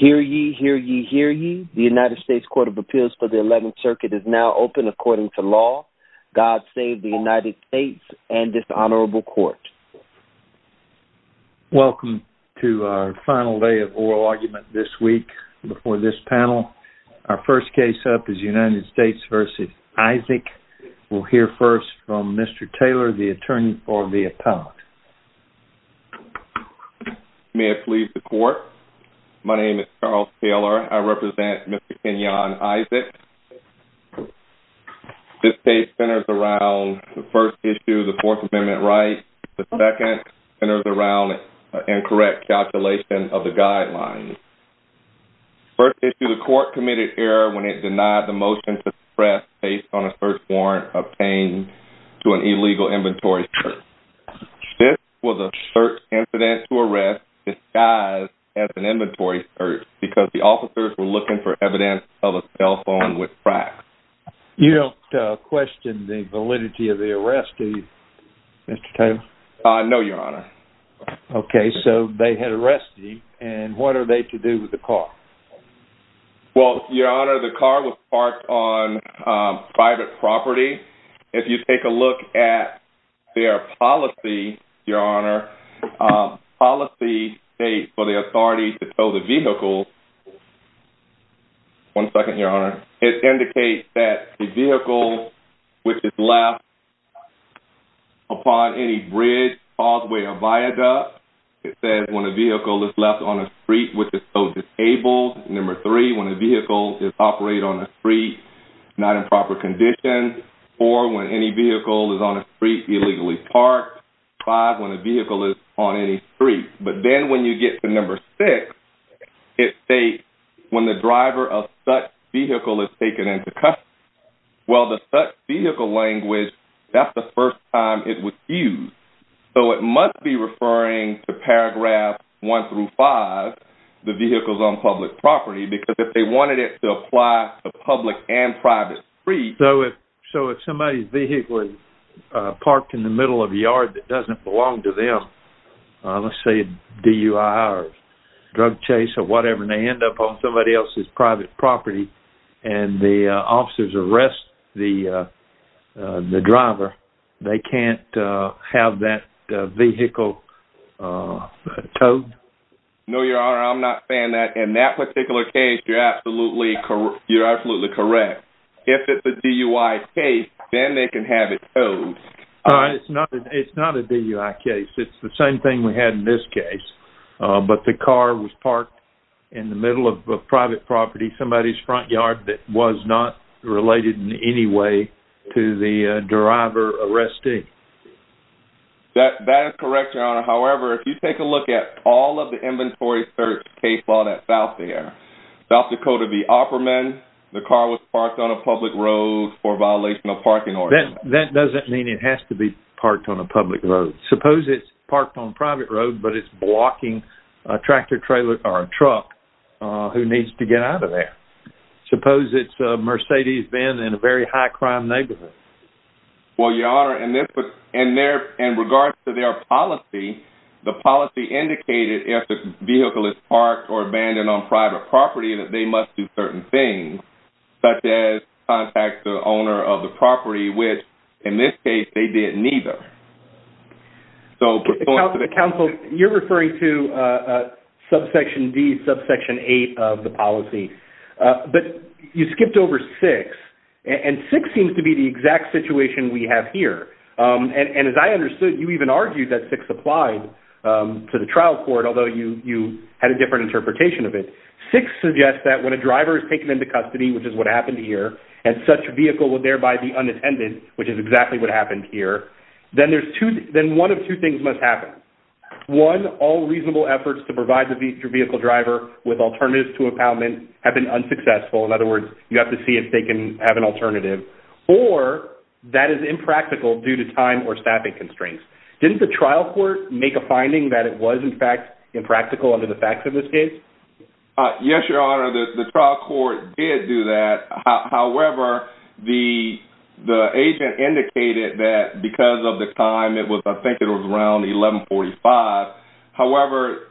Hear ye, hear ye, hear ye. The United States Court of Appeals for the 11th Circuit is now open according to law. God save the United States and this honorable court. Welcome to our final day of oral argument this week before this panel. Our first case up is United States v. Isaac. We'll hear first from Mr. Taylor, the attorney for the appellate. May it please the court. My name is Charles Taylor. I represent Mr. Keneon Isaac. This case centers around the first issue of the Fourth Amendment right. The second centers around incorrect calculation of the guidelines. First issue, the court committed error when it denied the motion to express based on a first warrant obtained to an illegal inventory search. This was a search incident to arrest disguised as an inventory search because the officers were looking for evidence of a cell phone with cracks. You don't question the validity of the arrest, do you, Mr. Taylor? No, your honor. Okay, so they had arrested him and what are they to do with the car? Well, your honor, the car was parked on private property. If you take a look at their policy, your honor, policy states for the authority to tow the vehicle. One second, your honor. It indicates that the vehicle which is left upon any bridge, causeway, or viaduct, it says when a number three, when a vehicle is operated on a street, not in proper condition, four, when any vehicle is on a street illegally parked, five, when a vehicle is on any street. But then when you get to number six, it states when the driver of such vehicle is taken into custody. Well, the such vehicle language, that's the first time it was used. So it must be referring to paragraph one through five, the vehicles on public property, because if they wanted it to apply to public and private streets. So if somebody's vehicle is parked in the middle of a yard that doesn't belong to them, let's say DUI or drug chase or whatever, and they end up on somebody else's private property, and the officers arrest the driver, they can't have that vehicle towed? No, your honor, I'm not saying that. In that particular case, you're absolutely correct. If it's a DUI case, then they can have it towed. It's not a DUI case. It's the same thing we had in this case. But the car was parked in the middle of a private property, somebody's front yard that was not related in any way to the driver arresting. That is correct, your honor. However, if you take a look at all of the inventory search case law that's out there, South Dakota v. Opperman, the car was parked on a public road for violation of parking ordinance. That doesn't mean it has to be parked on a public road. Suppose it's parked on a private road, but it's blocking a tractor trailer or a truck who needs to get out of there. Suppose it's a Mercedes Benz in a very high crime neighborhood. Well, your honor, in regards to their policy, the policy indicated if the vehicle is parked or abandoned on private property, that they must do certain things, such as contact the owner of the property, which in this case, they didn't either. Counsel, you're referring to subsection D, subsection eight of the policy. But you skipped over six, and six seems to be the exact situation we have here. And as I understood, you even argued that six applied to the trial court, although you had a different interpretation of it. Six suggests that when a driver is taken into custody, which is what happened here, and such vehicle would thereby be unattended, which is exactly what happened here, then one of two things must happen. One, all reasonable efforts to provide the vehicle driver with alternatives to impoundment have been unsuccessful. In other words, you have to see if they can have an alternative. Or that is impractical due to time or staffing constraints. Didn't the trial court make a finding that it was in fact impractical under the facts of this case? Yes, your honor, the trial court did do that. However, the agent indicated that because of time, I think it was around 1145. However,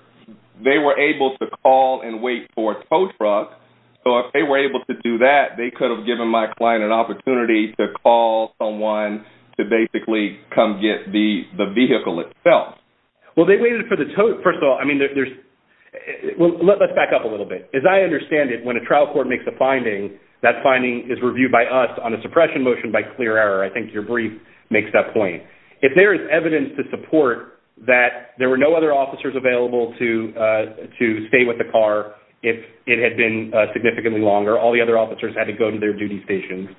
they were able to call and wait for a tow truck. So if they were able to do that, they could have given my client an opportunity to call someone to basically come get the vehicle itself. Well, they waited for the tow truck. First of all, I mean, let's back up a little bit. As I understand it, when a trial court makes a finding, that finding is reviewed by us on a suppression motion by clear error. I think your brief makes that point. If there is evidence to support that there were no other officers available to stay with the car if it had been significantly longer, all the other officers had to go to their duty stations.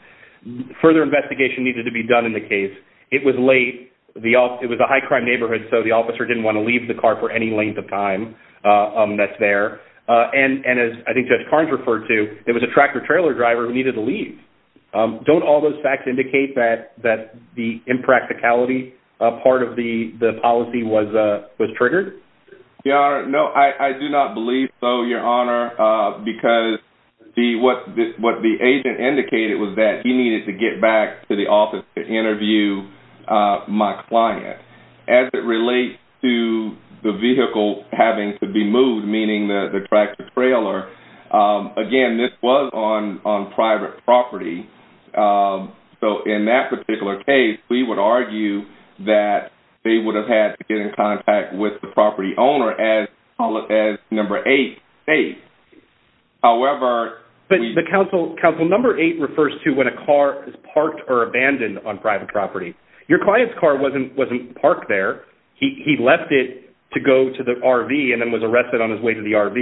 Further investigation needed to be done in the case. It was late. It was a high crime neighborhood, so the officer didn't want to leave the car for any length of time that's there. And as I think Judge Carnes referred to, it was a tractor-trailer driver needed to leave. Don't all those facts indicate that the impracticality part of the policy was triggered? No, I do not believe so, Your Honor, because what the agent indicated was that he needed to get back to the office to interview my client. As it relates to the vehicle having to be parked on private property, so in that particular case, we would argue that they would have had to get in contact with the property owner as number eight states. However... But counsel, number eight refers to when a car is parked or abandoned on private property. Your client's car wasn't parked there. He left it to go to the RV and then was arrested on his way to the RV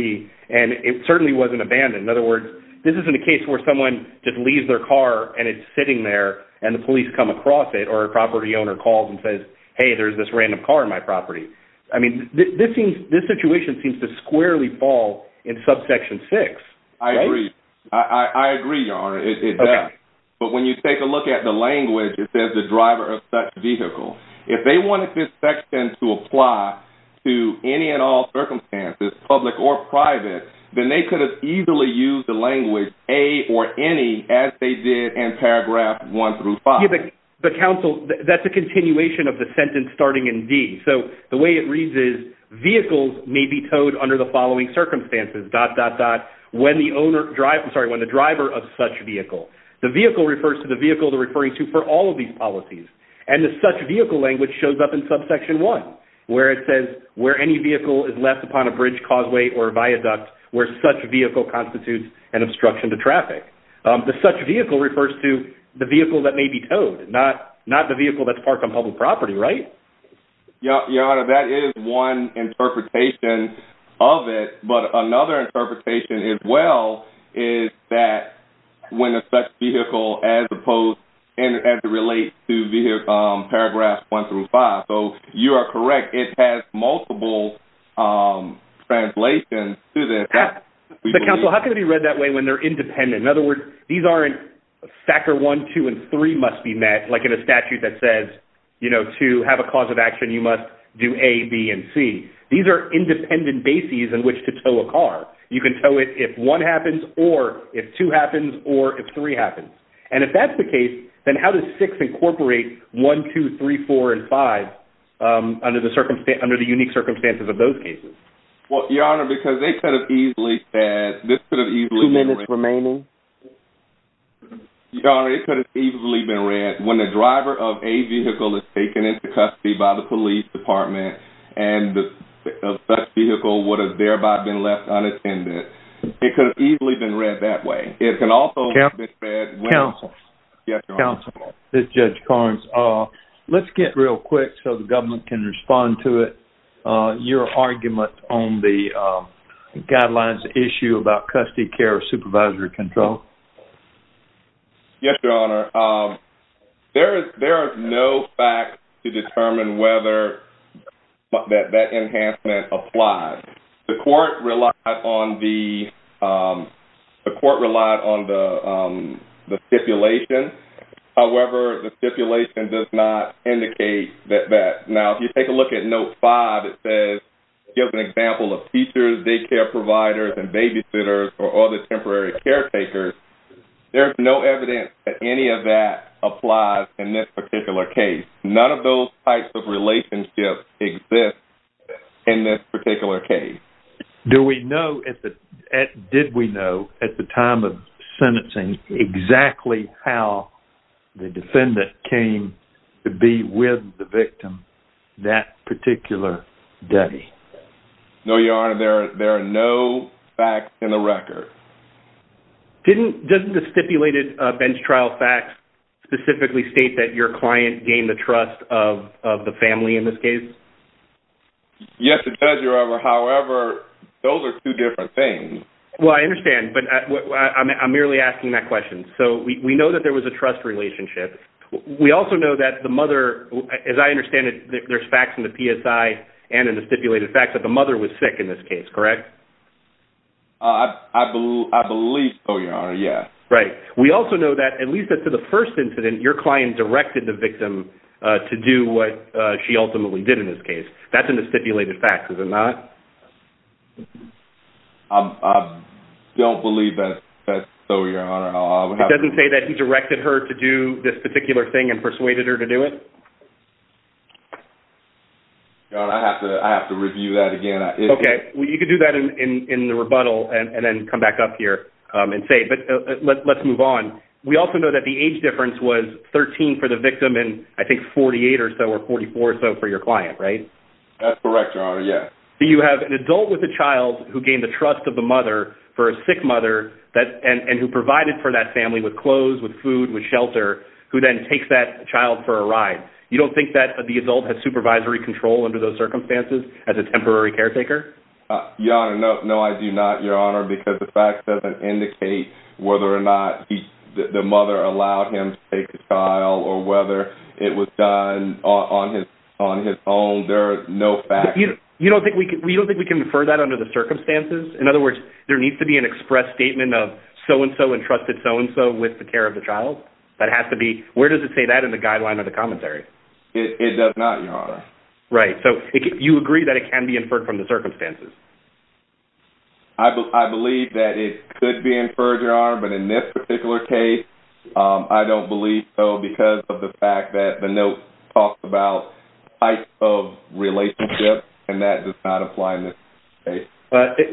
and it certainly wasn't abandoned. In other words, this isn't a case where someone just leaves their car and it's sitting there and the police come across it or a property owner calls and says, hey, there's this random car on my property. I mean, this situation seems to squarely fall in subsection six. I agree. I agree, Your Honor, it does. But when you take a look at the language, it says the driver of such vehicle. If they wanted this section to apply to any and all circumstances, public or private, then they could have easily used the language A or any as they did in paragraph one through five. But counsel, that's a continuation of the sentence starting in D. So the way it reads is, vehicles may be towed under the following circumstances, dot, dot, dot, when the driver of such vehicle. The vehicle refers to the vehicle they're referring to for all of these policies. And the such vehicle language shows up in subsection one, where it says where any vehicle is left upon a bridge causeway or viaduct where such vehicle constitutes an obstruction to traffic. The such vehicle refers to the vehicle that may be towed, not the vehicle that's parked on public property, right? Your Honor, that is one interpretation of it. But another interpretation as well is that when a such vehicle as opposed and as it relates to paragraphs one through five. So you are correct. It has multiple translations to this. But counsel, how can it be read that way when they're independent? In other words, these aren't factor one, two, and three must be met, like in a statute that says, you know, to have a cause of action, you must do A, B, and C. These are independent bases in which to tow a car. You can tow it if one happens or if two happens or if three happens. And if that's the case, then how does six incorporate one, two, three, four, and five under the unique circumstances of those cases? Well, Your Honor, because they could have easily said, this could have easily- Two minutes remaining. Your Honor, it could have easily been read when the driver of a vehicle is taken into custody by the police department and the such vehicle would have thereby been left unattended. It could have easily been read that way. It can also be read when- Counsel. Yes, Your Honor. Counsel, this is Judge Carnes. Let's get real quick so the government can respond to it. Your argument on the guidelines issue about custody care or supervisory control. Yes, Your Honor. There are no facts to determine whether that enhancement applies. The court relied on the stipulation. However, the stipulation does not indicate that. Now, if you take a look at Note 5, it says, it gives an example of teachers, daycare providers, and babysitters, or other temporary caretakers. There's no evidence that any of that applies in this particular case. None of those types of relationships exist in this particular case. Did we know at the time of sentencing exactly how the defendant came to be with the victim that particular day? No, Your Honor. There are no facts in the record. Didn't the stipulated bench trial facts specifically state that your client gained the trust of the family in this case? Yes, it does, Your Honor. However, those are two different things. Well, I understand, but I'm merely asking that question. So, we know that there was a trust relationship. We also know that the mother, as I understand it, there's facts in the PSI and in the stipulated facts that the mother was sick in this case, correct? I believe so, Your Honor. Yes. Right. We also know that, at least as to the first incident, your client directed the victim to do what she ultimately did in this case. That's in the stipulated facts, is it not? I don't believe that's so, Your Honor. It doesn't say that he directed her to do this particular thing and persuaded her to do it? Your Honor, I have to review that again. Okay. You can do that in the rebuttal and then come back up here and say, but let's move on. We also know that the age difference was 13 for the victim and, I think, 48 or so or 44 or so for your client, right? That's correct, Your Honor. Yes. So, you have an adult with a child who gained the trust of the mother for a sick mother and who provided for that family with clothes, with food, with shelter, who then takes that child for a ride. You don't think that the adult has supervisory control under those circumstances as a temporary caretaker? Your Honor, no, I do not, Your Honor, because the facts doesn't indicate whether or not the mother allowed him to take the child or whether it was done on his own. There are no facts. You don't think we can infer that under the circumstances? In other words, there needs to be an express statement of so-and-so entrusted so-and-so with the care of the child? That has to be... Where does it say that in the guideline of the commentary? It does not, Your Honor. Right. So, you agree that it can be inferred from the circumstances? I believe that it could be inferred, Your Honor, but in this particular case, I don't believe so because of the fact that the note talks about type of relationship and that does not apply in this case.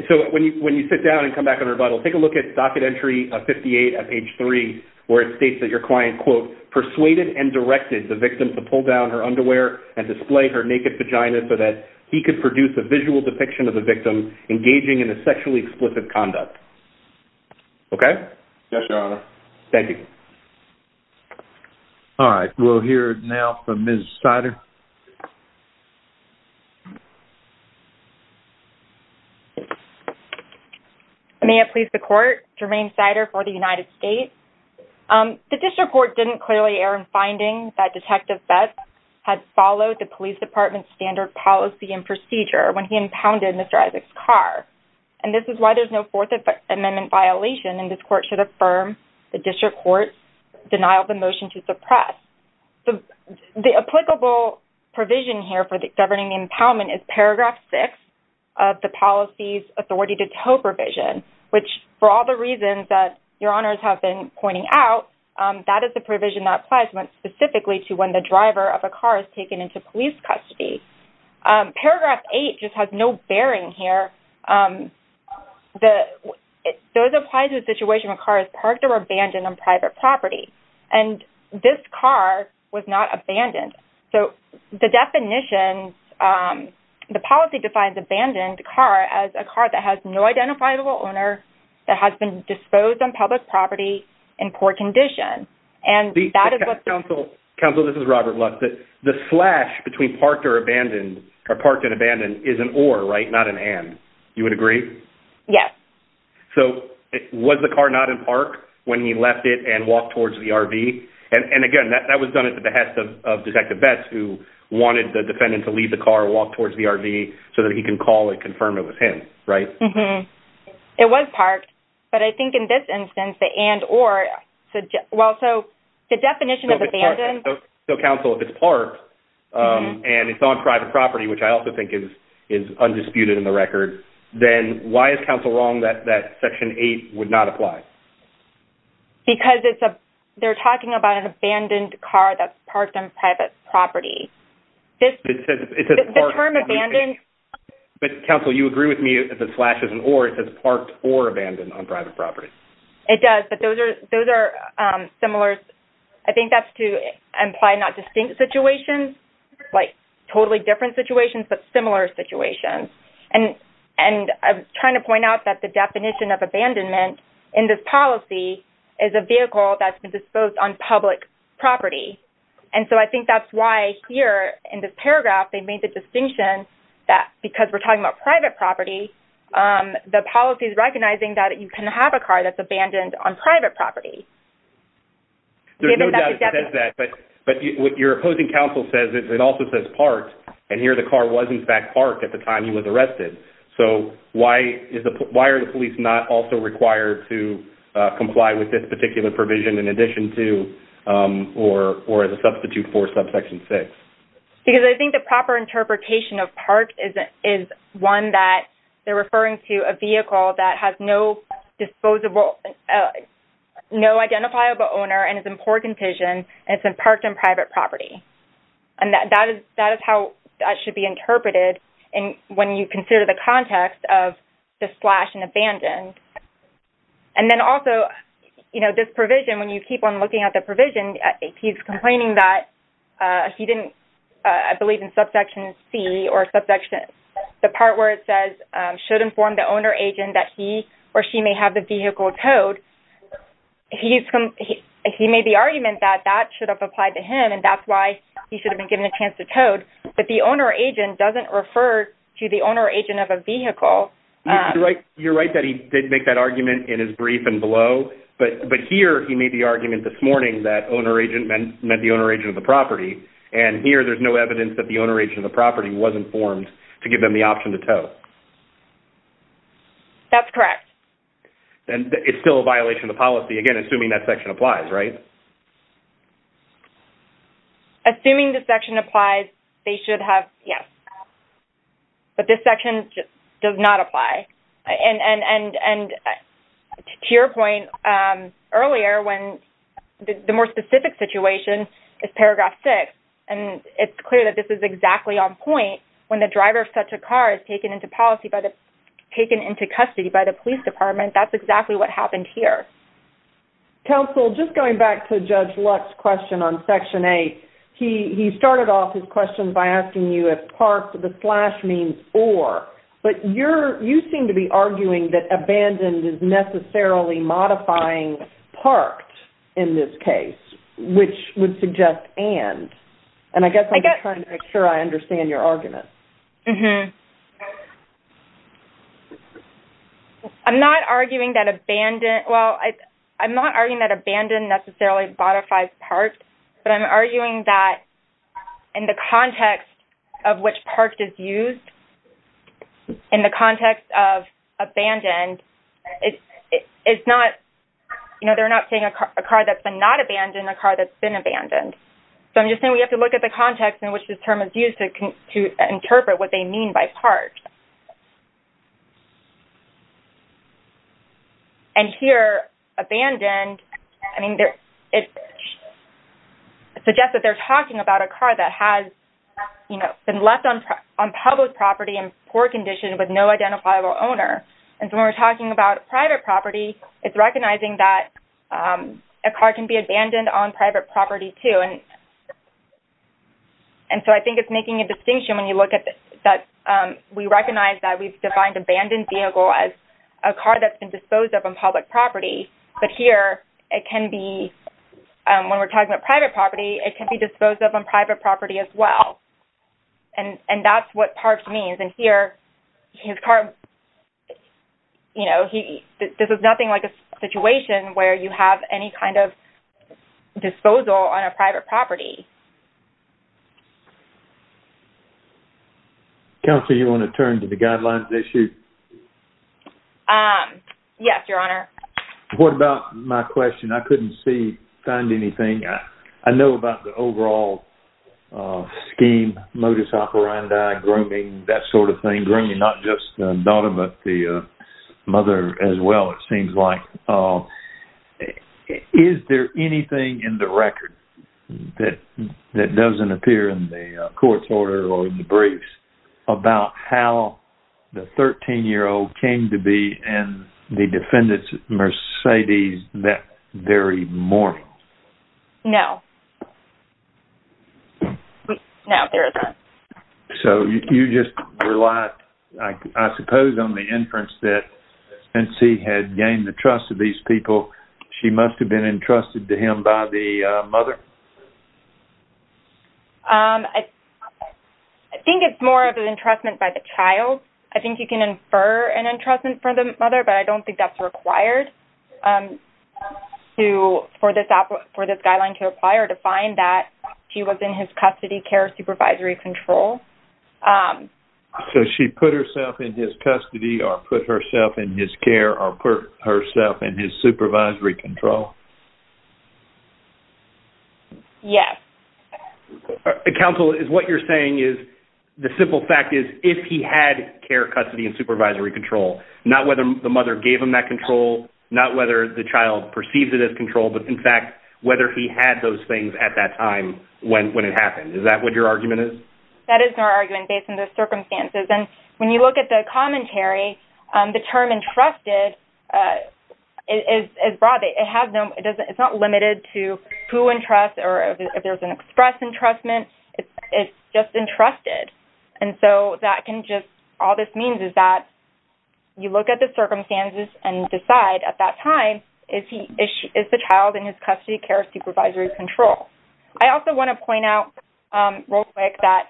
So, when you sit down and come back on rebuttal, take a look at docket entry 58 at page 3, where it states that your client, quote, pulled down her underwear and displayed her naked vagina so that he could produce a visual depiction of the victim engaging in a sexually explicit conduct. Okay? Yes, Your Honor. Thank you. All right. We'll hear now from Ms. Sider. May it please the Court, Jermaine Sider for the United States. The district court didn't clearly err in finding that Detective Betts had followed the police department's standard policy and procedure when he impounded Mr. Isaac's car. And this is why there's no Fourth Amendment violation and this court should affirm the district court's denial of the motion to suppress. The applicable provision here for governing the impoundment is paragraph 6 of the policy's toe provision, which for all the reasons that Your Honors have been pointing out, that is the provision that applies specifically to when the driver of a car is taken into police custody. Paragraph 8 just has no bearing here. Those apply to a situation where a car is parked or abandoned on private property. And this car was not abandoned. So, the definition, um, the policy defines abandoned car as a car that has no identifiable owner that has been disposed on public property in poor condition. And that is what the- Counsel, this is Robert Lutz. The slash between parked or abandoned, or parked and abandoned, is an or, right? Not an and. You would agree? Yes. So, was the car not in park when he left it and walked towards the RV? And again, that was done at the behest of Detective Betts, who wanted the defendant to leave the car, walk towards the RV, so that he can call and confirm it was him, right? It was parked. But I think in this instance, the and or, well, so, the definition of abandoned- So, Counsel, if it's parked and it's on private property, which I also think is undisputed in the record, then why is Counsel wrong that section 8 would not apply? Because it's a- they're talking about an abandoned car that's parked on private property. It says parked. The term abandoned- But, Counsel, you agree with me that the slash is an or. It says parked or abandoned on private property. It does. But those are- those are, um, similar- I think that's to imply not distinct situations, like, totally different situations, but similar situations. And- and I'm trying to point out the definition of abandonment in this policy is a vehicle that's been disposed on public property. And so, I think that's why here, in this paragraph, they made the distinction that because we're talking about private property, um, the policy is recognizing that you can have a car that's abandoned on private property. There's no doubt it says that, but- but what your opposing Counsel says is it also says here the car was, in fact, parked at the time he was arrested. So, why is the- why are the police not also required to, uh, comply with this particular provision in addition to, um, or- or as a substitute for subsection 6? Because I think the proper interpretation of parked is- is one that they're referring to a vehicle that has no disposable- no identifiable owner and is in poor condition, and it's been parked on private property. And that- that is- that is how that should be interpreted in- when you consider the context of just slashed and abandoned. And then also, you know, this provision, when you keep on looking at the provision, he's complaining that, uh, he didn't, uh, I believe in subsection C or subsection- the part where it says, um, should inform the owner agent that he or she may have the should have applied to him, and that's why he should have been given a chance to towed, but the owner agent doesn't refer to the owner agent of a vehicle. You're right that he did make that argument in his brief and below, but- but here he made the argument this morning that owner agent meant- meant the owner agent of the property, and here there's no evidence that the owner agent of the property was informed to give them the option to tow. That's correct. And it's still a violation of the policy, again, assuming that section applies, right? Assuming the section applies, they should have, yes, but this section just does not apply. And- and- and- and to your point, um, earlier, when the- the more specific situation is paragraph six, and it's clear that this is exactly on point when the driver of such a car is taken into policy by the- taken into custody by the police department, that's exactly what happened here. Counsel, just going back to Judge Luck's question on section eight, he- he started off his questions by asking you if parked, the slash means or, but you're- you seem to be arguing that abandoned is necessarily modifying parked in this case, which would suggest and. And I guess I'm just trying to make sure I understand your argument. Mm-hmm. I'm not arguing that abandoned- well, I- I'm not arguing that abandoned necessarily modifies parked, but I'm arguing that in the context of which parked is used, in the context of abandoned, it- it- it's not, you know, they're not saying a car- a car that's not abandoned, a car that's been abandoned. So I'm just saying we have to look at the context in which this term is used to- to interpret what they mean by parked. And here, abandoned, I mean, there- it suggests that they're talking about a car that has, you know, been left on- on public property in poor condition with no identifiable owner. And so when we're talking about private property, it's recognizing that a car can be abandoned on private property too. And- and so I think it's making a distinction when you look at the- that we recognize that we've defined abandoned vehicle as a car that's been disposed of on public property. But here, it can be- when we're talking about private property, it can be disposed of on private property as well. And- and that's what parked means. And here, his car, you know, he- this is nothing like a situation where you have any kind of disposal on a private property. Counselor, you want to turn to the guidelines issue? Yes, Your Honor. What about my question? I couldn't see- find anything. I know about the overall scheme, modus operandi, grooming, that sort of thing. Grooming, not just the daughter, but the mother as well, it seems like. Is there anything in the record that- that doesn't appear in the court's order or in the briefs about how the 13-year-old came to be in the defendant's Mercedes that very morning? No. No, there isn't. So, you just relied, I suppose, on the inference that since he had gained the trust of these people, she must have been entrusted to him by the mother? I think it's more of an entrustment by the child. I think you can infer an entrustment from the mother, but I don't think that's required to- for this- for this guideline to apply or to find that she was in his custody, care, supervisory control. So, she put herself in his custody or put herself in his care or put herself in his supervisory control? Yes. Counsel, what you're saying is- the simple fact is if he had care, custody, and supervisory control, not whether the mother gave him that control, not whether the child perceives it as control, but, in fact, whether he had those things at that time when it happened. Is that what your argument is? That is our argument based on the circumstances. And when you look at the commentary, the term entrusted is broad. It has no- it's not limited to who entrusts or if there's an express entrustment. It's just entrusted. And so, that can just- all this means is that you look at the circumstances and decide at that time is he- is the child in his custody, care, or supervisory control. I also want to point out real quick that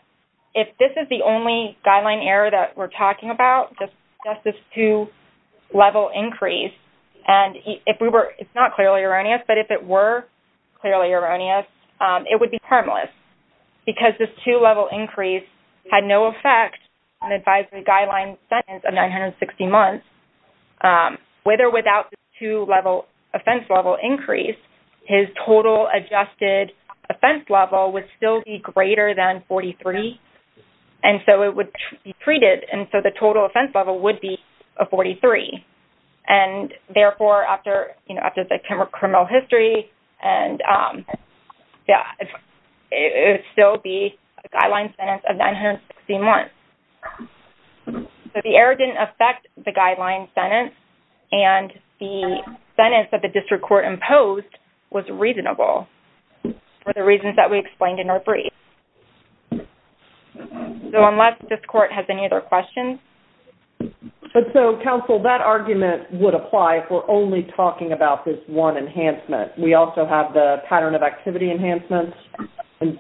if this is the only guideline error that we're talking about, just this two-level increase, and if we were- it's not clearly erroneous, but if it were clearly erroneous, it would be harmless because this two-level increase had no effect on the advisory guideline sentence of 960 months. With or without the two-level offense level increase, his total adjusted offense level would still be greater than 43. And so, it would be treated. And so, the total offense level would be a 43. And therefore, after, you know, after the criminal history, and yeah, it would still be a guideline sentence of 960 months. So, the error didn't affect the guideline sentence, and the sentence that the district court imposed was reasonable for the reasons that we explained in our brief. So, unless this court has any other questions. But so, counsel, that argument would apply if we're only talking about this one enhancement. We also have the pattern of activity enhancements.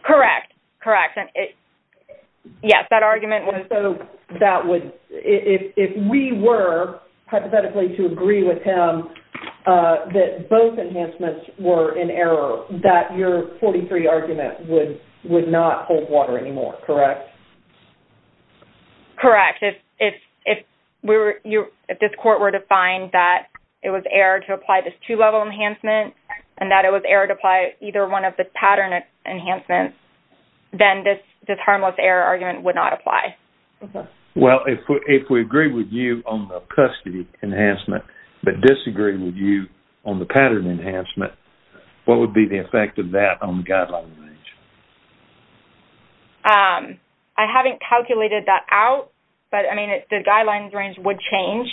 Correct. Correct. And it- yes, that argument was- And so, that would- if we were hypothetically to agree with him that both enhancements were in error, that your 43 argument would not hold water anymore, correct? Correct. If we were- if this court were to find that it was error to apply this two-level enhancement, and that it was error to apply either one of the pattern enhancements, then this harmless error argument would not apply. Well, if we agree with you on the custody enhancement, but disagree with you on the pattern enhancement, what would be the effect of that on the guideline range? I haven't calculated that out, but I mean, the guideline range would change.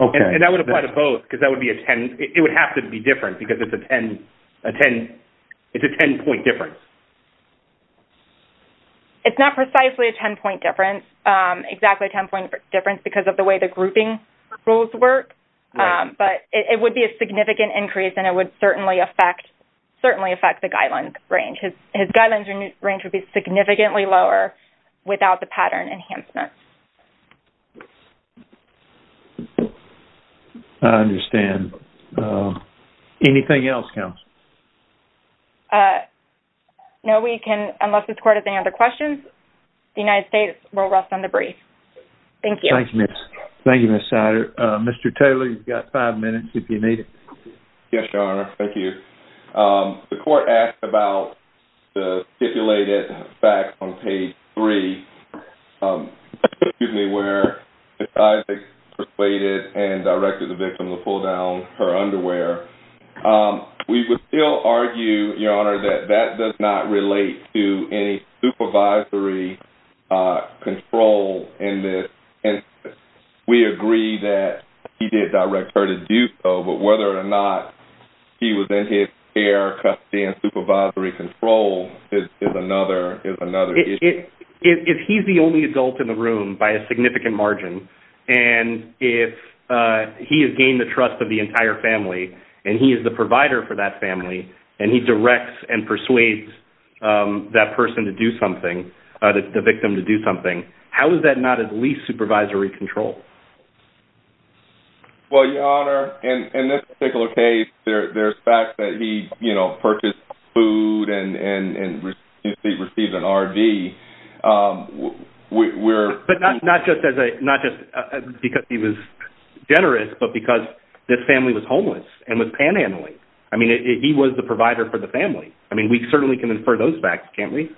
Okay. And that would apply to both, because that would be a 10- it would have to be different, because it's a 10- a 10- it's a 10-point difference. It's not precisely a 10-point difference, exactly a 10-point difference, because of the way the grouping rules work, but it would be a significant increase, and it would certainly affect- certainly affect the guideline range. His guideline range would be significantly lower without the pattern enhancement. I understand. Anything else, counsel? No, we can- unless this court has any other questions, the United States will rest on the brief. Thank you. Thank you, Ms. Sider. Mr. Taylor, you've got five minutes if you need it. Yes, Your Honor. Thank you. The court asked about the stipulated facts on page three, excuse me, where Ms. Isaacs persuaded and directed the victim to pull down her underwear. We would still argue, Your Honor, that that does not relate to any supervisory control in this, and we agree that he did direct her to do so, but whether or not he was in his care, custody, and supervisory control is another issue. If he's the only adult in the room, by a significant margin, and if he has gained the trust of the entire family, and he is the provider for that family, and he directs and persuades that person to do something, the victim to do something, how is that not at least supervisory control? Well, Your Honor, in this particular case, there's facts that he, you know, purchased food and received an RD. But not just because he was generous, but because this family was homeless and was panhandling. I mean, he was the provider for the family. I mean, certainly can infer those facts, can't we?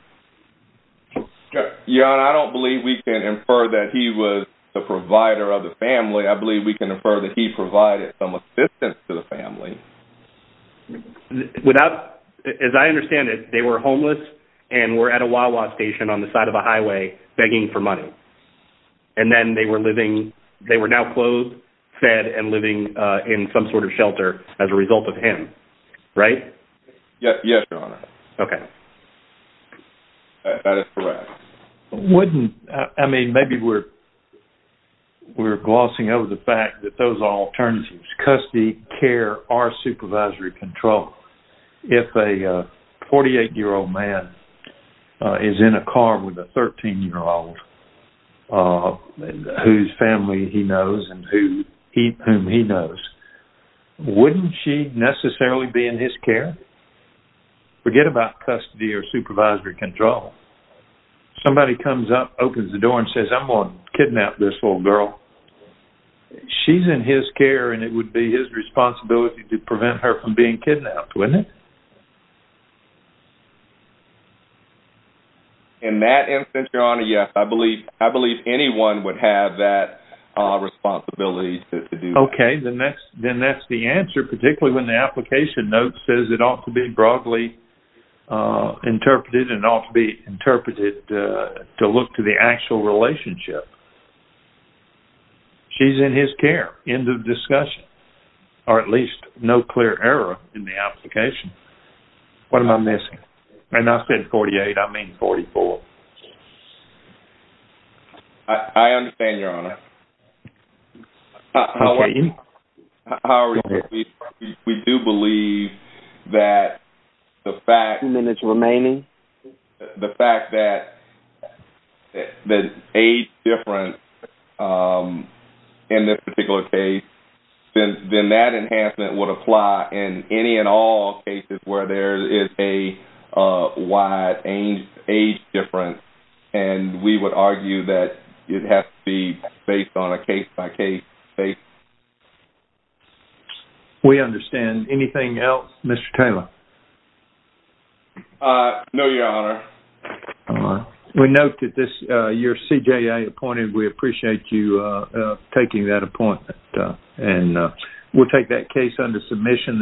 Your Honor, I don't believe we can infer that he was the provider of the family. I believe we can infer that he provided some assistance to the family. As I understand it, they were homeless and were at a Wawa station on the side of a highway begging for money. And then they were now clothed, fed, and living in some sort of shelter as a result of him. Right? Yes, Your Honor. Okay. That is correct. I mean, maybe we're glossing over the fact that those are alternatives. Custody, care, or supervisory control. If a 48-year-old man is in a car with a 13-year-old girl whose family he knows and whom he knows, wouldn't she necessarily be in his care? Forget about custody or supervisory control. Somebody comes up, opens the door, and says, I'm going to kidnap this little girl. She's in his care, and it would be his responsibility to prevent her from being kidnapped, wouldn't it? In that instance, Your Honor, yes. I believe anyone would have that responsibility to do that. Okay. Then that's the answer, particularly when the application note says it ought to be broadly interpreted and ought to be interpreted to look to the actual relationship. She's in his care. End of discussion. Or at least, no clear error in the application. What am I missing? And I said 48. I mean 44. I understand, Your Honor. How are we doing? We do believe that the fact that there's age difference in this particular case, then that enhancement would apply in any and all cases where there is a wide age difference, and we would argue that it has to be based on a case-by-case basis. We understand. Anything else, Mr. Taylor? No, Your Honor. We note that you're CJA appointed. We appreciate you taking that appointment. We'll take that case under submission.